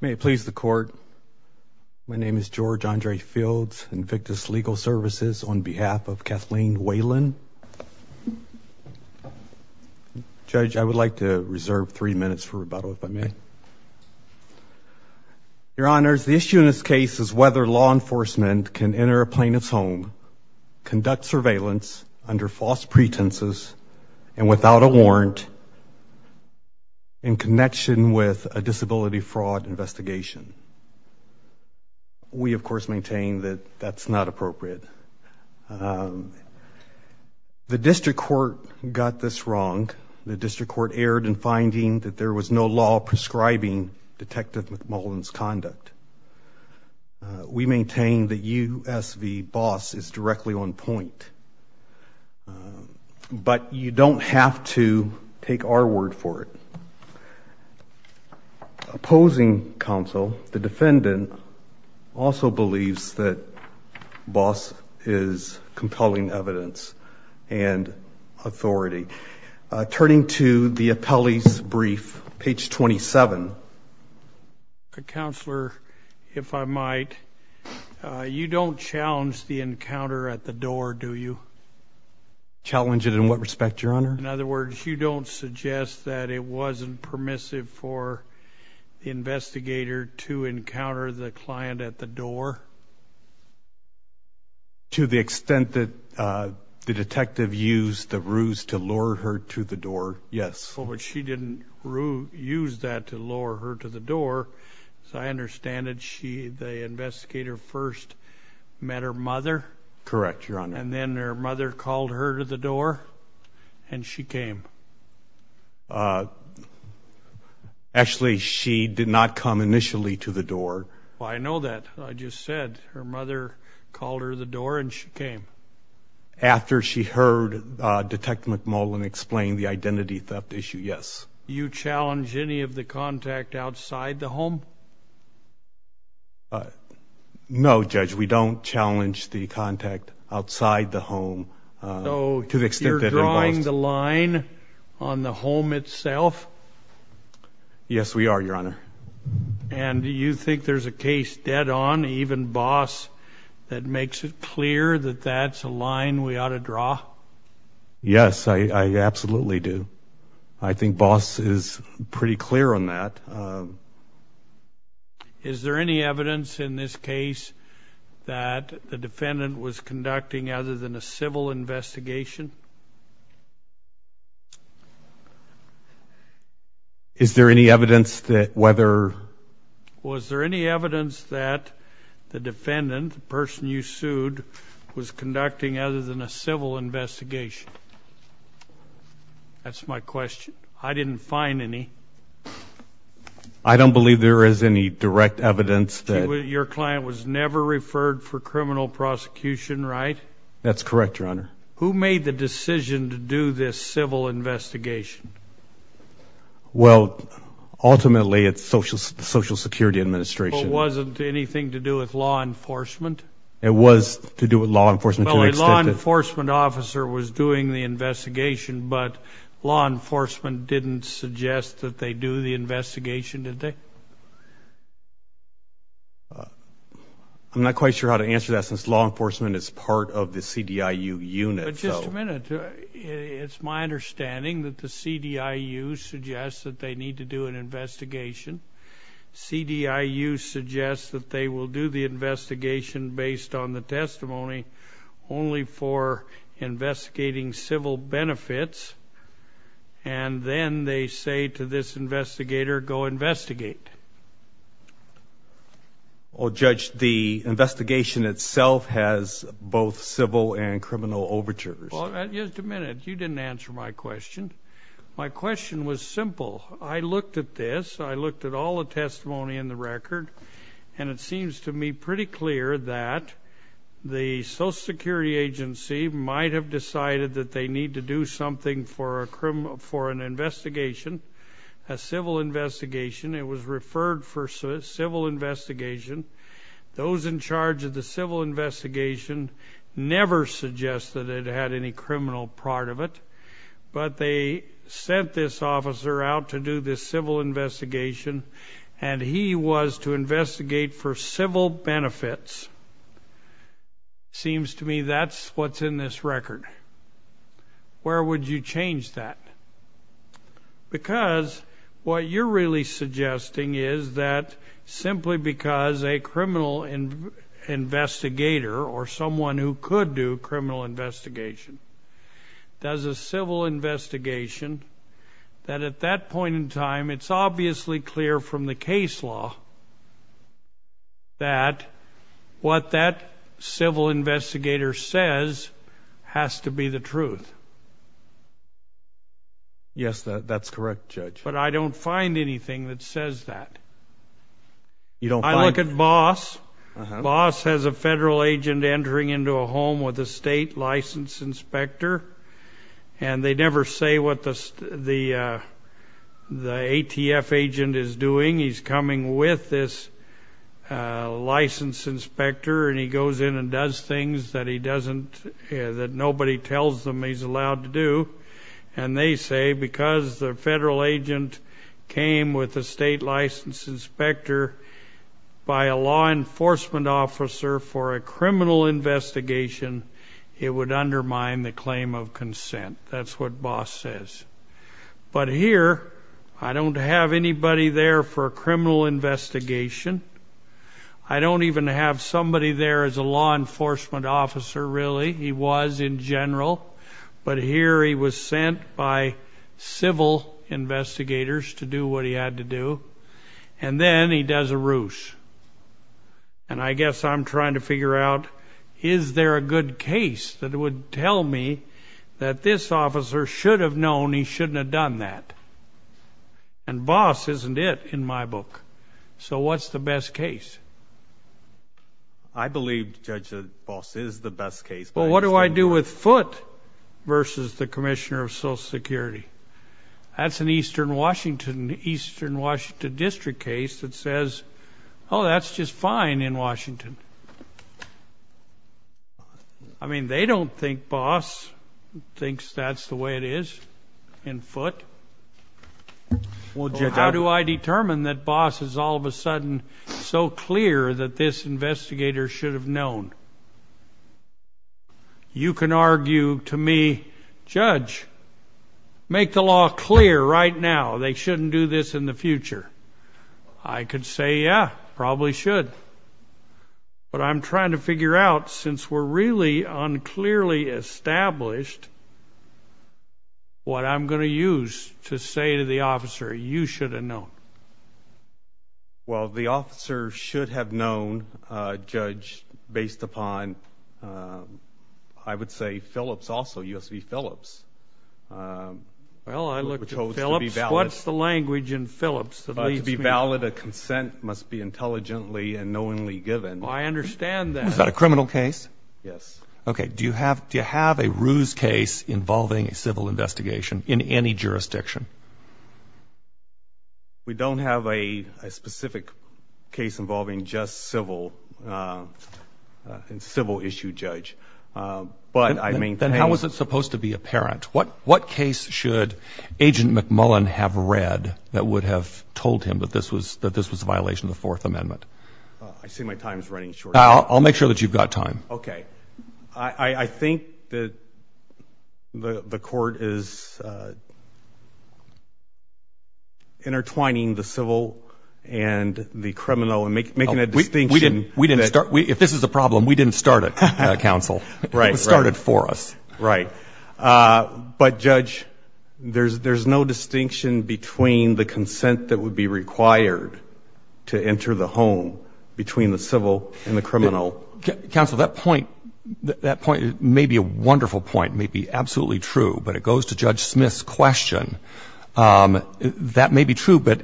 May it please the court. My name is George Andre Fields, Invictus Legal Services, on behalf of Kathleen Whalen. Judge, I would like to reserve three minutes for rebuttal if I may. Your Honors, the issue in this case is whether law enforcement can enter a plaintiff's home, conduct surveillance under false pretenses, and without a warrant, in connection with a disability fraud investigation. We, of course, maintain that that's not appropriate. The District Court got this wrong. The District Court erred in finding that there was no law prescribing Detective McMullen's conduct. We maintain that U.S. v. Boss is directly on point. But you don't have to take our word for it. Opposing counsel, the defendant also believes that Boss is compelling evidence and authority. Turning to the appellee's brief, page 27. Counselor, if I might, you don't challenge the encounter at the door, do you? Challenge it in what respect, Your Honor? In other words, you don't suggest that it wasn't permissive for the investigator to encounter the client at the door? To the extent that the detective used the ruse to lure her to the door, yes. But she didn't use that to lure her to the door. As I understand it, the investigator first met her mother? Correct, Your Honor. And then her mother called her to the door and she came? Actually, she did not come initially to the door. I know that. I just said her mother called her to the door and she came. After she heard Detective McMullen explain the identity theft issue, yes. Do you challenge any of the contact outside the home? No, Judge, we don't challenge the contact outside the home. So you're drawing the line on the home itself? Yes, we are, Your Honor. And do you think there's a case dead-on, even Boss, that makes it clear that that's a line we ought to draw? Yes, I absolutely do. I think Boss is pretty clear on that. Is there any evidence in this case that the defendant was conducting other than a civil investigation? Is there any evidence that whether... Was there any evidence that the defendant, the person you sued, was conducting other than a civil investigation? That's my question. I didn't find any. I don't believe there is any direct evidence that... Your client was never referred for criminal prosecution, right? That's correct, Your Honor. Who made the decision to do this civil investigation? Well, ultimately, it's the Social Security Administration. But wasn't anything to do with law enforcement? It was to do with law enforcement. Well, a law enforcement officer was doing the investigation, but law enforcement didn't suggest that they do the investigation, did they? I'm not quite sure how to answer that since law enforcement is part of the CDIU unit. But just a minute. It's my CDIU suggests that they will do the investigation based on the testimony only for investigating civil benefits, and then they say to this investigator, go investigate. Well, Judge, the investigation itself has both civil and criminal overtures. Just a minute. You didn't answer my question. My question was simple. I looked at this. I looked at all the testimony in the record, and it seems to me pretty clear that the Social Security Agency might have decided that they need to do something for a criminal... for an investigation, a civil investigation. It was referred for civil investigation. Those in charge of the civil investigation never suggested it had any criminal part of it, but they sent this officer out to do this civil investigation, and he was to investigate for civil benefits. Seems to me that's what's in this record. Where would you change that? Because what you're really suggesting is that simply because a criminal investigator or someone who could do criminal investigation does a civil investigation, that at that point in time, it's obviously clear from the case law that what that civil investigator says has to be the truth. Yes, that's correct, Judge. But I don't find anything that says that. You don't find... I look at Boss. Boss has a federal agent entering into a home with a state licensed inspector, and they never say what the ATF agent is doing. He's coming with this licensed inspector, and he goes in and does things that he doesn't... that nobody tells them he's allowed to do. And they say because the federal agent came with a state licensed inspector by a law enforcement officer for a criminal investigation, it would undermine the claim of consent. That's what Boss says. But here, I don't have anybody there for a criminal investigation. I don't even have somebody there as a law enforcement officer, really. He was in general, but here he was sent by civil investigators to do what he had to do. And then he does a ruse. And I guess I'm trying to figure out, is there a good case that would tell me that this officer should have known he shouldn't have done that? And Boss isn't it in my book. So what's the best case? I believe, Judge, that Boss is the best case. Well, what do I do with Foote versus the Commissioner of Social Security? That's an eastern Washington district case that says, oh, that's just fine in Washington. I mean, they don't think Boss thinks that's the way it is in Well, Judge, how do I determine that Boss is all of a sudden so clear that this investigator should have known? You can argue to me, Judge, make the law clear right now. They shouldn't do this in the future. I could say, yeah, probably should. But I'm trying to figure out, since we're really unclearly established, what I'm going to use to say to the officer, you should have known. Well, the officer should have known, Judge, based upon, I would say, Phillips also, U.S. v. Phillips. Well, I look to Phillips. What's the language in Phillips that leads me? To be valid, a consent must be intelligently and knowingly given. I understand that. Is that a criminal case? Yes. Okay. Do you have to have a Ruse case involving a civil investigation in any jurisdiction? We don't have a specific case involving just civil and civil issue, Judge. But I mean, then how was it supposed to be apparent? What what case should Agent McMullen have read that would have told him that this was that this was a violation of the Fourth Amendment? I see my time is running short. I'll make sure that you've got time. Okay. I think that the court is intertwining the civil and the criminal and making a distinction. We didn't start. If this is a problem, we didn't start it, counsel. Right. It was started for us. Right. But, Judge, there's no distinction between the civil and the criminal. Counsel, that point, that point may be a wonderful point, may be absolutely true. But it goes to Judge Smith's question. That may be true. But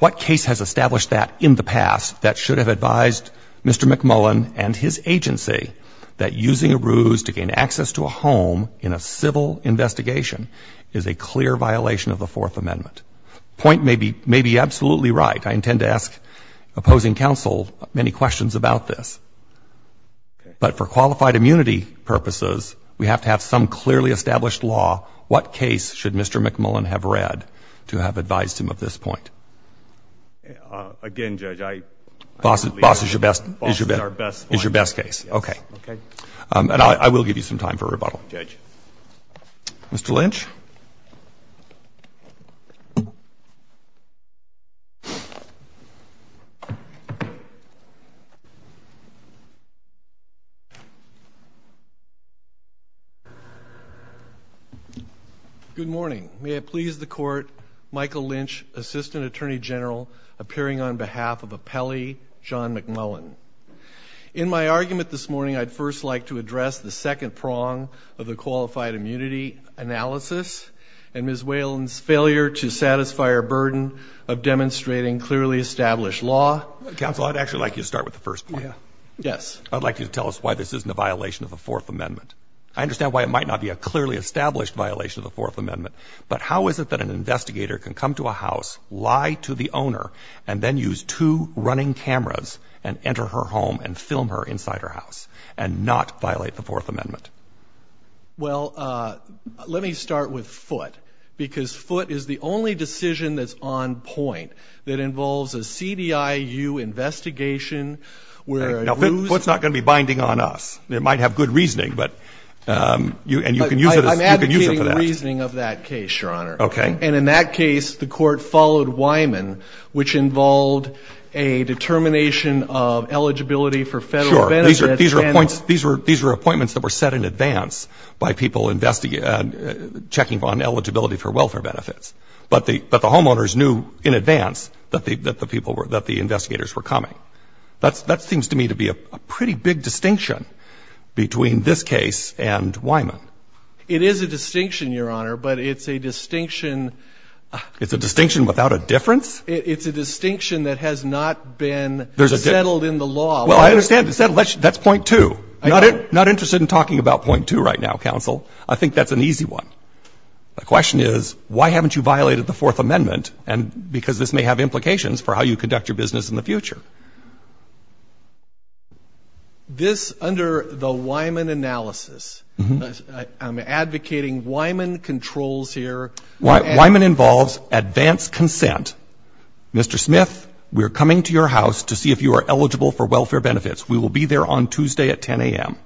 what case has established that in the past that should have advised Mr. McMullen and his agency that using a Ruse to gain access to a home in a civil investigation is a clear violation of the Fourth Amendment? Point may be may be absolutely right. I intend to ask opposing counsel many questions about this. But for qualified immunity purposes, we have to have some clearly established law. What case should Mr. McMullen have read to have advised him of this point? Again, Judge, I boss is your best is your best is your best case. Okay. Okay. And I will give you some time for rebuttal, Judge. Mr. Lynch. Good morning. May it please the Court, Michael Lynch, Assistant Attorney General, appearing on behalf of Appellee John McMullen. In my argument this morning, I'd first like to address the second prong of the qualified immunity analysis and Ms. Whalen's failure to satisfy her burden of demonstrating clearly established law. Counsel, I'd actually like you to start with the first point. Yes. I'd like you to tell us why this isn't a violation of the Fourth Amendment. I understand why it might not be a clearly established violation of the Fourth Amendment. But how is it that an investigator can come to a house, lie to the owner, and then use two running cameras and enter her home and film her inside her house, and not violate the Fourth Amendment? Well, let me start with Foote, because Foote is the only decision that's on point that involves a CDIU investigation where it rules Now, Foote's not going to be binding on us. It might have good reasoning, but you can use it as you can use it for that. I'm advocating the reasoning of that case, Your Honor. Okay. And in that case, the Court followed Wyman, which involved a determination of eligibility for federal benefits. Sure. These were appointments that were set in advance by people checking on eligibility for welfare benefits. But the homeowners knew in advance that the investigators were coming. That seems to me to be a pretty big distinction between this case and Wyman. It is a distinction, Your Honor, but it's a distinction. It's a distinction without a difference? It's a distinction that has not been settled in the law. Well, I understand. That's point two. I'm not interested in talking about point two right now, counsel. I think that's an easy one. My question is, why haven't you violated the Fourth Amendment? And because this may have implications for how you conduct your business in the future. This, under the Wyman analysis, I'm advocating Wyman controls here. Wyman involves advanced consent. Mr. Smith, we're coming to your house to see if you are eligible for welfare benefits. We will be there on Tuesday at 10 a.m.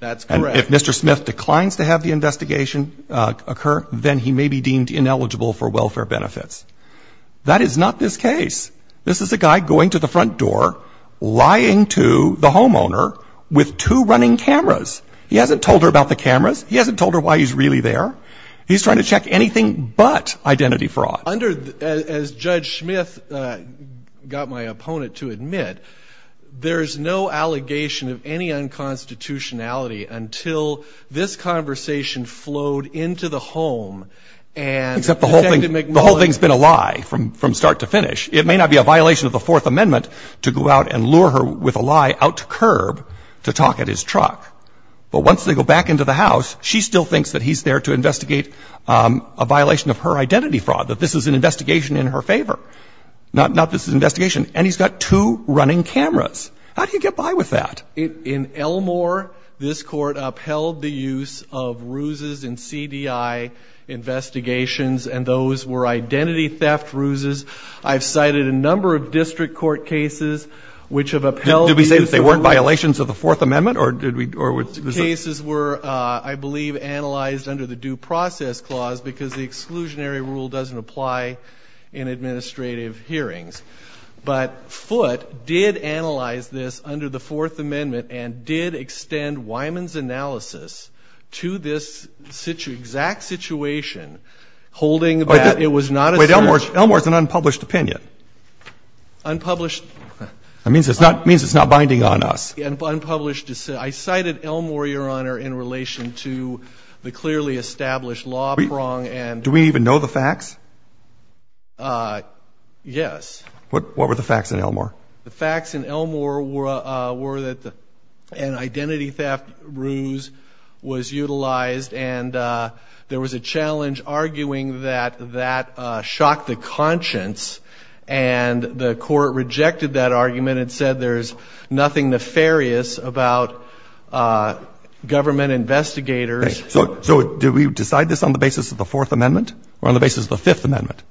That's correct. And if Mr. Smith declines to have the investigation occur, then he may be deemed ineligible for welfare benefits. That is not this case. This is a guy going to the front door, lying to the homeowner with two running cameras. He hasn't told her about the cameras. He hasn't told her why he's really there. He's trying to check anything but identity fraud. Under, as Judge Smith got my opponent to admit, there's no allegation of any unconstitutionality until this conversation flowed into the home and Detective McMullin... Except the whole thing's been a lie from start to finish. It may not be a violation of the Fourth Amendment to go out and lure her with a lie out to curb to talk at his truck. But once they go back into the house, she still thinks that he's there to investigate a violation of her identity fraud, that this is an investigation in her favor, not this investigation. And he's got two running cameras. How do you get by with that? In Elmore, this Court upheld the use of ruses in CDI investigations, and those were identity theft ruses. I've cited a number of district court cases which have upheld the use of... Did we say that they weren't violations of the Fourth Amendment or did we... The cases were, I believe, analyzed under the Due Process Clause because the exclusionary rule doesn't apply in administrative hearings. But Foote did analyze this under the Fourth Amendment and did extend Wyman's analysis to this exact situation, holding that it was not a... Wait. Elmore's an unpublished opinion. Unpublished... That means it's not binding on us. Unpublished. I cited Elmore, Your Honor, in relation to the clearly established law prong and... Do we even know the facts? Yes. What were the facts in Elmore? The facts in Elmore were that an identity theft ruse was utilized and there was a challenge arguing that that shocked the conscience, and the Court rejected that argument and said there's nothing nefarious about government investigators... So did we decide this on the basis of the Fourth Amendment or on the basis of the Fifth Amendment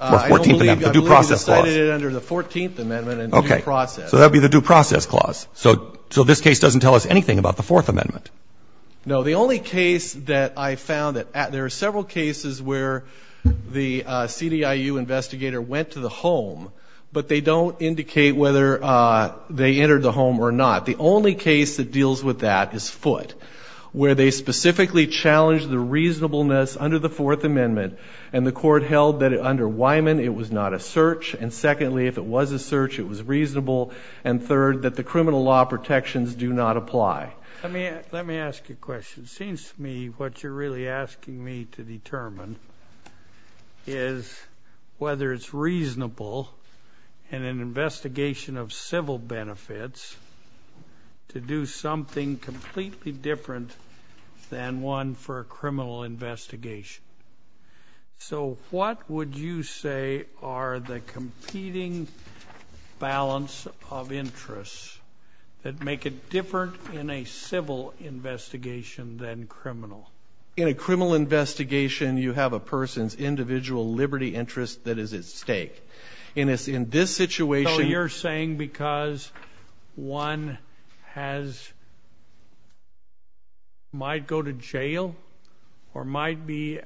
or the Fourteenth Amendment, the Due Process Clause? I believe we decided it under the Fourteenth Amendment and Due Process. Okay. So that would be the Due Process Clause. So this case doesn't tell us anything about the Fourth Amendment? No. The only case that I found that... This is where the CDIU investigator went to the home, but they don't indicate whether they entered the home or not. The only case that deals with that is Foote, where they specifically challenged the reasonableness under the Fourth Amendment and the Court held that under Wyman it was not a search, and secondly, if it was a search, it was reasonable, and third, that the criminal law protections do not apply. Let me ask you a question. It is whether it's reasonable in an investigation of civil benefits to do something completely different than one for a criminal investigation. So what would you say are the competing balance of interests that make it different in a civil investigation than criminal? In a criminal investigation, you have a person's individual liberty interest that is at stake. In this situation... So you're saying because one has... might go to jail or might be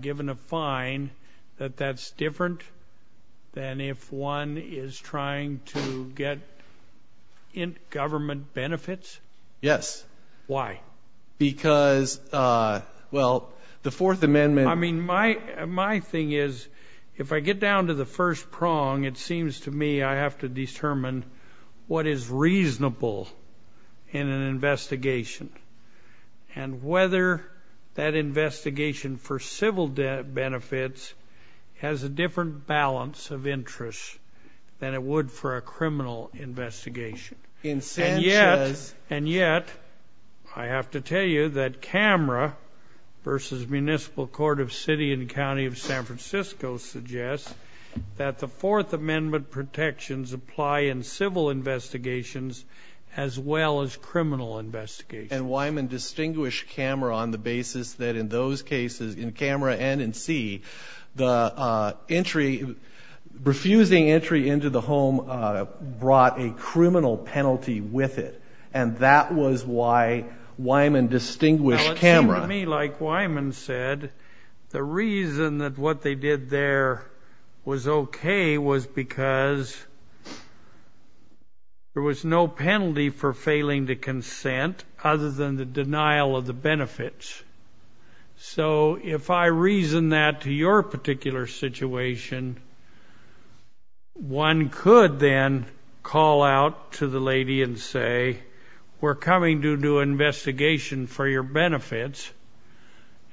given a fine that that's different than if one is trying to get government benefits? Yes. Why? Because, well, the Fourth Amendment... I mean, my thing is, if I get down to the first prong, it seems to me I have to determine what is reasonable in an investigation and whether that investigation for civil benefits has a different balance of interest than it would for a criminal investigation. And yet, I have to tell you that CAMRA versus Municipal Court of City and County of San Francisco suggests that the Fourth Amendment protections apply in civil investigations as well as criminal investigations. And Wyman distinguished CAMRA on the basis that in those cases, in CAMRA and in C, the entry, refusing entry into the home, brought a criminal penalty with it. And that was why Wyman distinguished CAMRA. Well, it seemed to me, like Wyman said, the reason that what they did there was okay was because there was no penalty for failing to consent other than the denial of the benefits. So, if I reason that to your particular situation, one could then call out to the lady and say, we're coming to do an investigation for your benefits,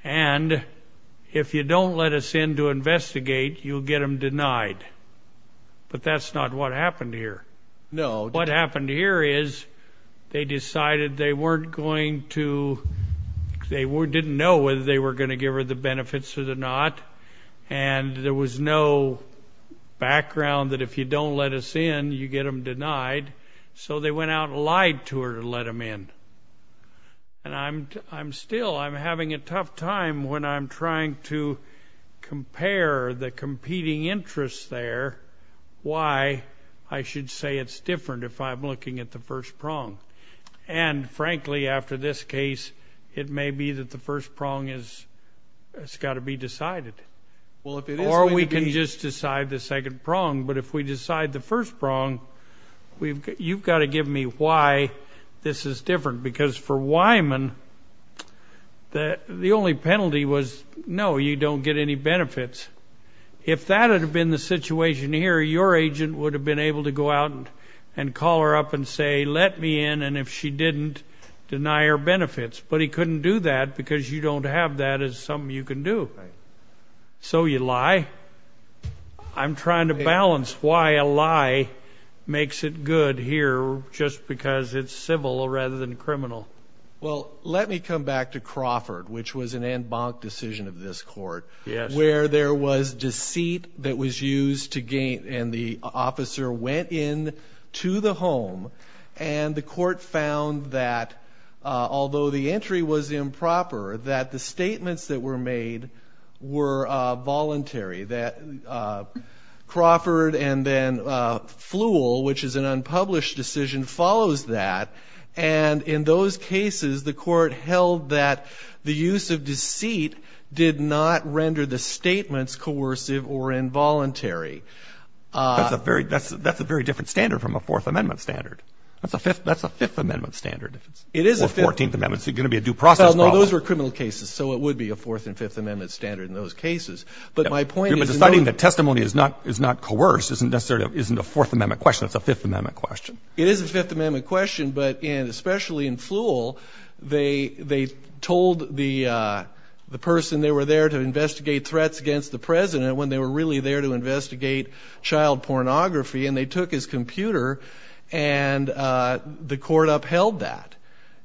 and if you don't let us in to investigate, you'll get them denied. But that's not what happened here. No. What happened here is they decided they weren't going to, they didn't know whether they were going to give her the benefits or not, and there was no background that if you don't let us in, you get them denied, so they went out and lied to her to let them in. And I'm still, I'm having a tough time when I'm trying to compare the competing interests there, why I should say it's different if I'm looking at the first prong. And frankly, after this case, it may be that the first prong has got to be decided. Or we can just decide the second prong. But if we decide the first prong, you've got to give me why this is different. Because for Wyman, the only penalty was, no, you don't get any benefits. If that had been the situation here, your call her up and say, let me in, and if she didn't, deny her benefits. But he couldn't do that because you don't have that as something you can do. So you lie. I'm trying to balance why a lie makes it good here just because it's civil rather than criminal. Well, let me come back to Crawford, which was an en banc decision of this court, where there was a home. And the court found that although the entry was improper, that the statements that were made were voluntary. That Crawford and then Flewell, which is an unpublished decision, follows that. And in those cases, the court held that the use of deceit did not render the statements coercive or involuntary. That's a very different standard from a Fourth Amendment standard. That's a Fifth Amendment standard. Or Fourteenth Amendment. It's going to be a due process problem. Well, no, those were criminal cases, so it would be a Fourth and Fifth Amendment standard in those cases. But my point is... You're deciding that testimony is not coerced isn't necessarily a Fourth Amendment question. It's a Fifth Amendment question. It is a Fifth Amendment question, but especially in Flewell, they told the person they were there to investigate threats against the President when they were really there to investigate child pornography. And they took his computer, and the court upheld that.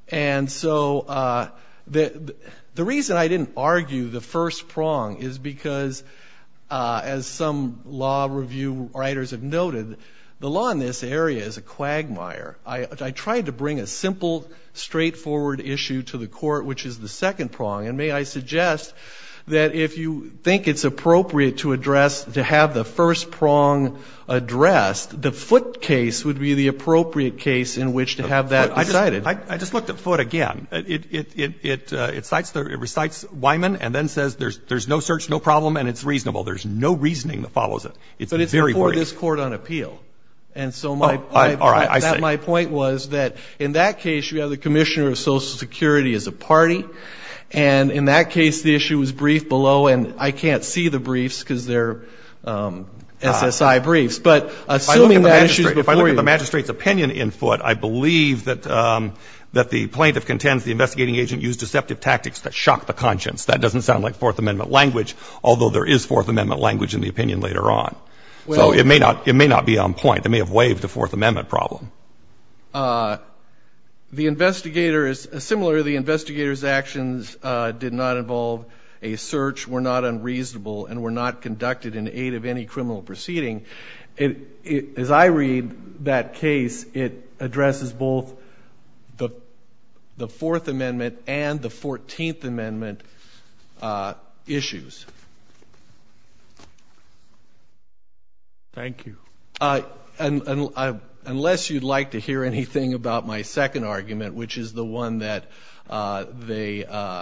And so the reason I didn't argue the first prong is because, as some law review writers have noted, the law in this area is a quagmire. I tried to bring a simple, straightforward issue to the court, which is the second prong. And may I suggest that if you think it's appropriate to address, to have the first prong addressed, the Foote case would be the appropriate case in which to have that decided. I just looked at Foote again. It recites Wyman and then says there's no search, no problem, and it's reasonable. There's no reasoning that follows it. It's very worrisome. But it's before this court on appeal. And so my point was that in that case, you have the Commissioner of Social Security as a party. And in that case, the issue was briefed below. And I can't see the briefs, because they're SSI briefs. But assuming that issue is before you — If I look at the magistrate's opinion in Foote, I believe that the plaintiff contends the investigating agent used deceptive tactics that shocked the conscience. That doesn't sound like Fourth Amendment language, although there is Fourth Amendment language in the opinion later on. So it may not be on point. It may have waived the Fourth Amendment problem. The investigator is — similarly, the investigator's actions did not involve a search, were not unreasonable, and were not conducted in aid of any criminal proceeding. As I read that case, it addresses both the Fourth Amendment and the Fourteenth Amendment issues. Thank you. Unless you'd like to hear anything about my second argument, which is the one that they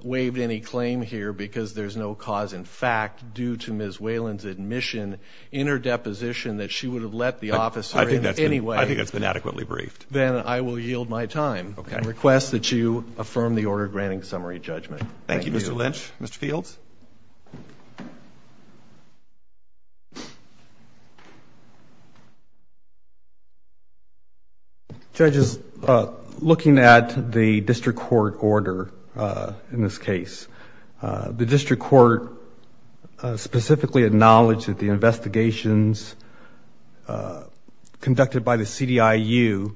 waived any claim here because there's no cause in fact due to Ms. Whelan's admission in her deposition that she would have let the officer in anyway — I think that's been adequately briefed. Then I will yield my time and request that you affirm the order granting summary judgment. Thank you. Thank you, Mr. Lynch. Mr. Fields? Judges, looking at the district court order in this case, the district court specifically acknowledged that the investigations conducted by the CDIU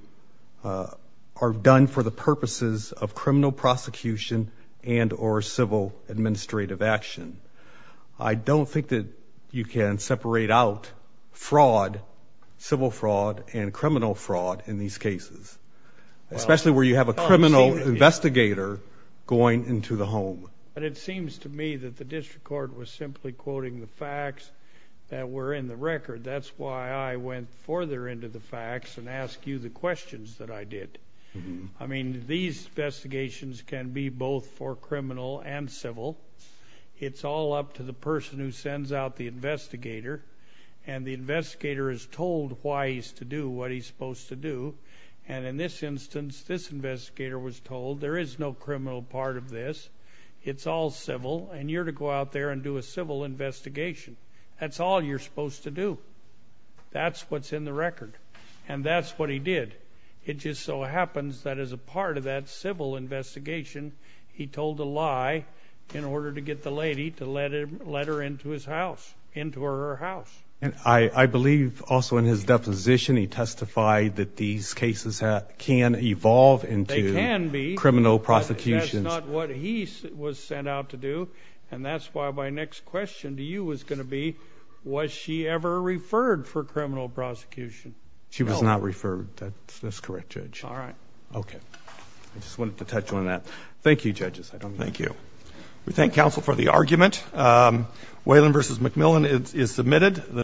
are done for the purposes of criminal prosecution and or civil administrative action. I don't think that you can separate out civil fraud and criminal fraud in these cases, especially where you have a criminal investigator going into the home. It seems to me that the district court was simply quoting the facts that were in the record. That's why I went further into the facts and asked you the questions that I did. These investigations can be both for criminal and civil. It's all up to the person who sends out the investigator, and the investigator is told why he's to do what he's supposed to do. And in this instance, this investigator was told, there is no criminal part of this. It's all civil, and you're to go out there and do a civil investigation. That's all you're supposed to do. That's what's in the record. And that's what he did. It just so happens that as a part of that civil investigation, he told a lie in order to get the lady to let her into his house, into her house. And I believe also in his deposition, he testified that these cases can evolve into criminal prosecution. They can be, but that's not what he was sent out to do. And that's why my next question to you was going to be, was she ever referred for criminal prosecution? She was not referred. That's correct, Judge. All right. Okay. I just wanted to touch on that. Thank you, Judges. I don't know. Thank you. We thank counsel for the argument. Whalen v. McMillan is submitted.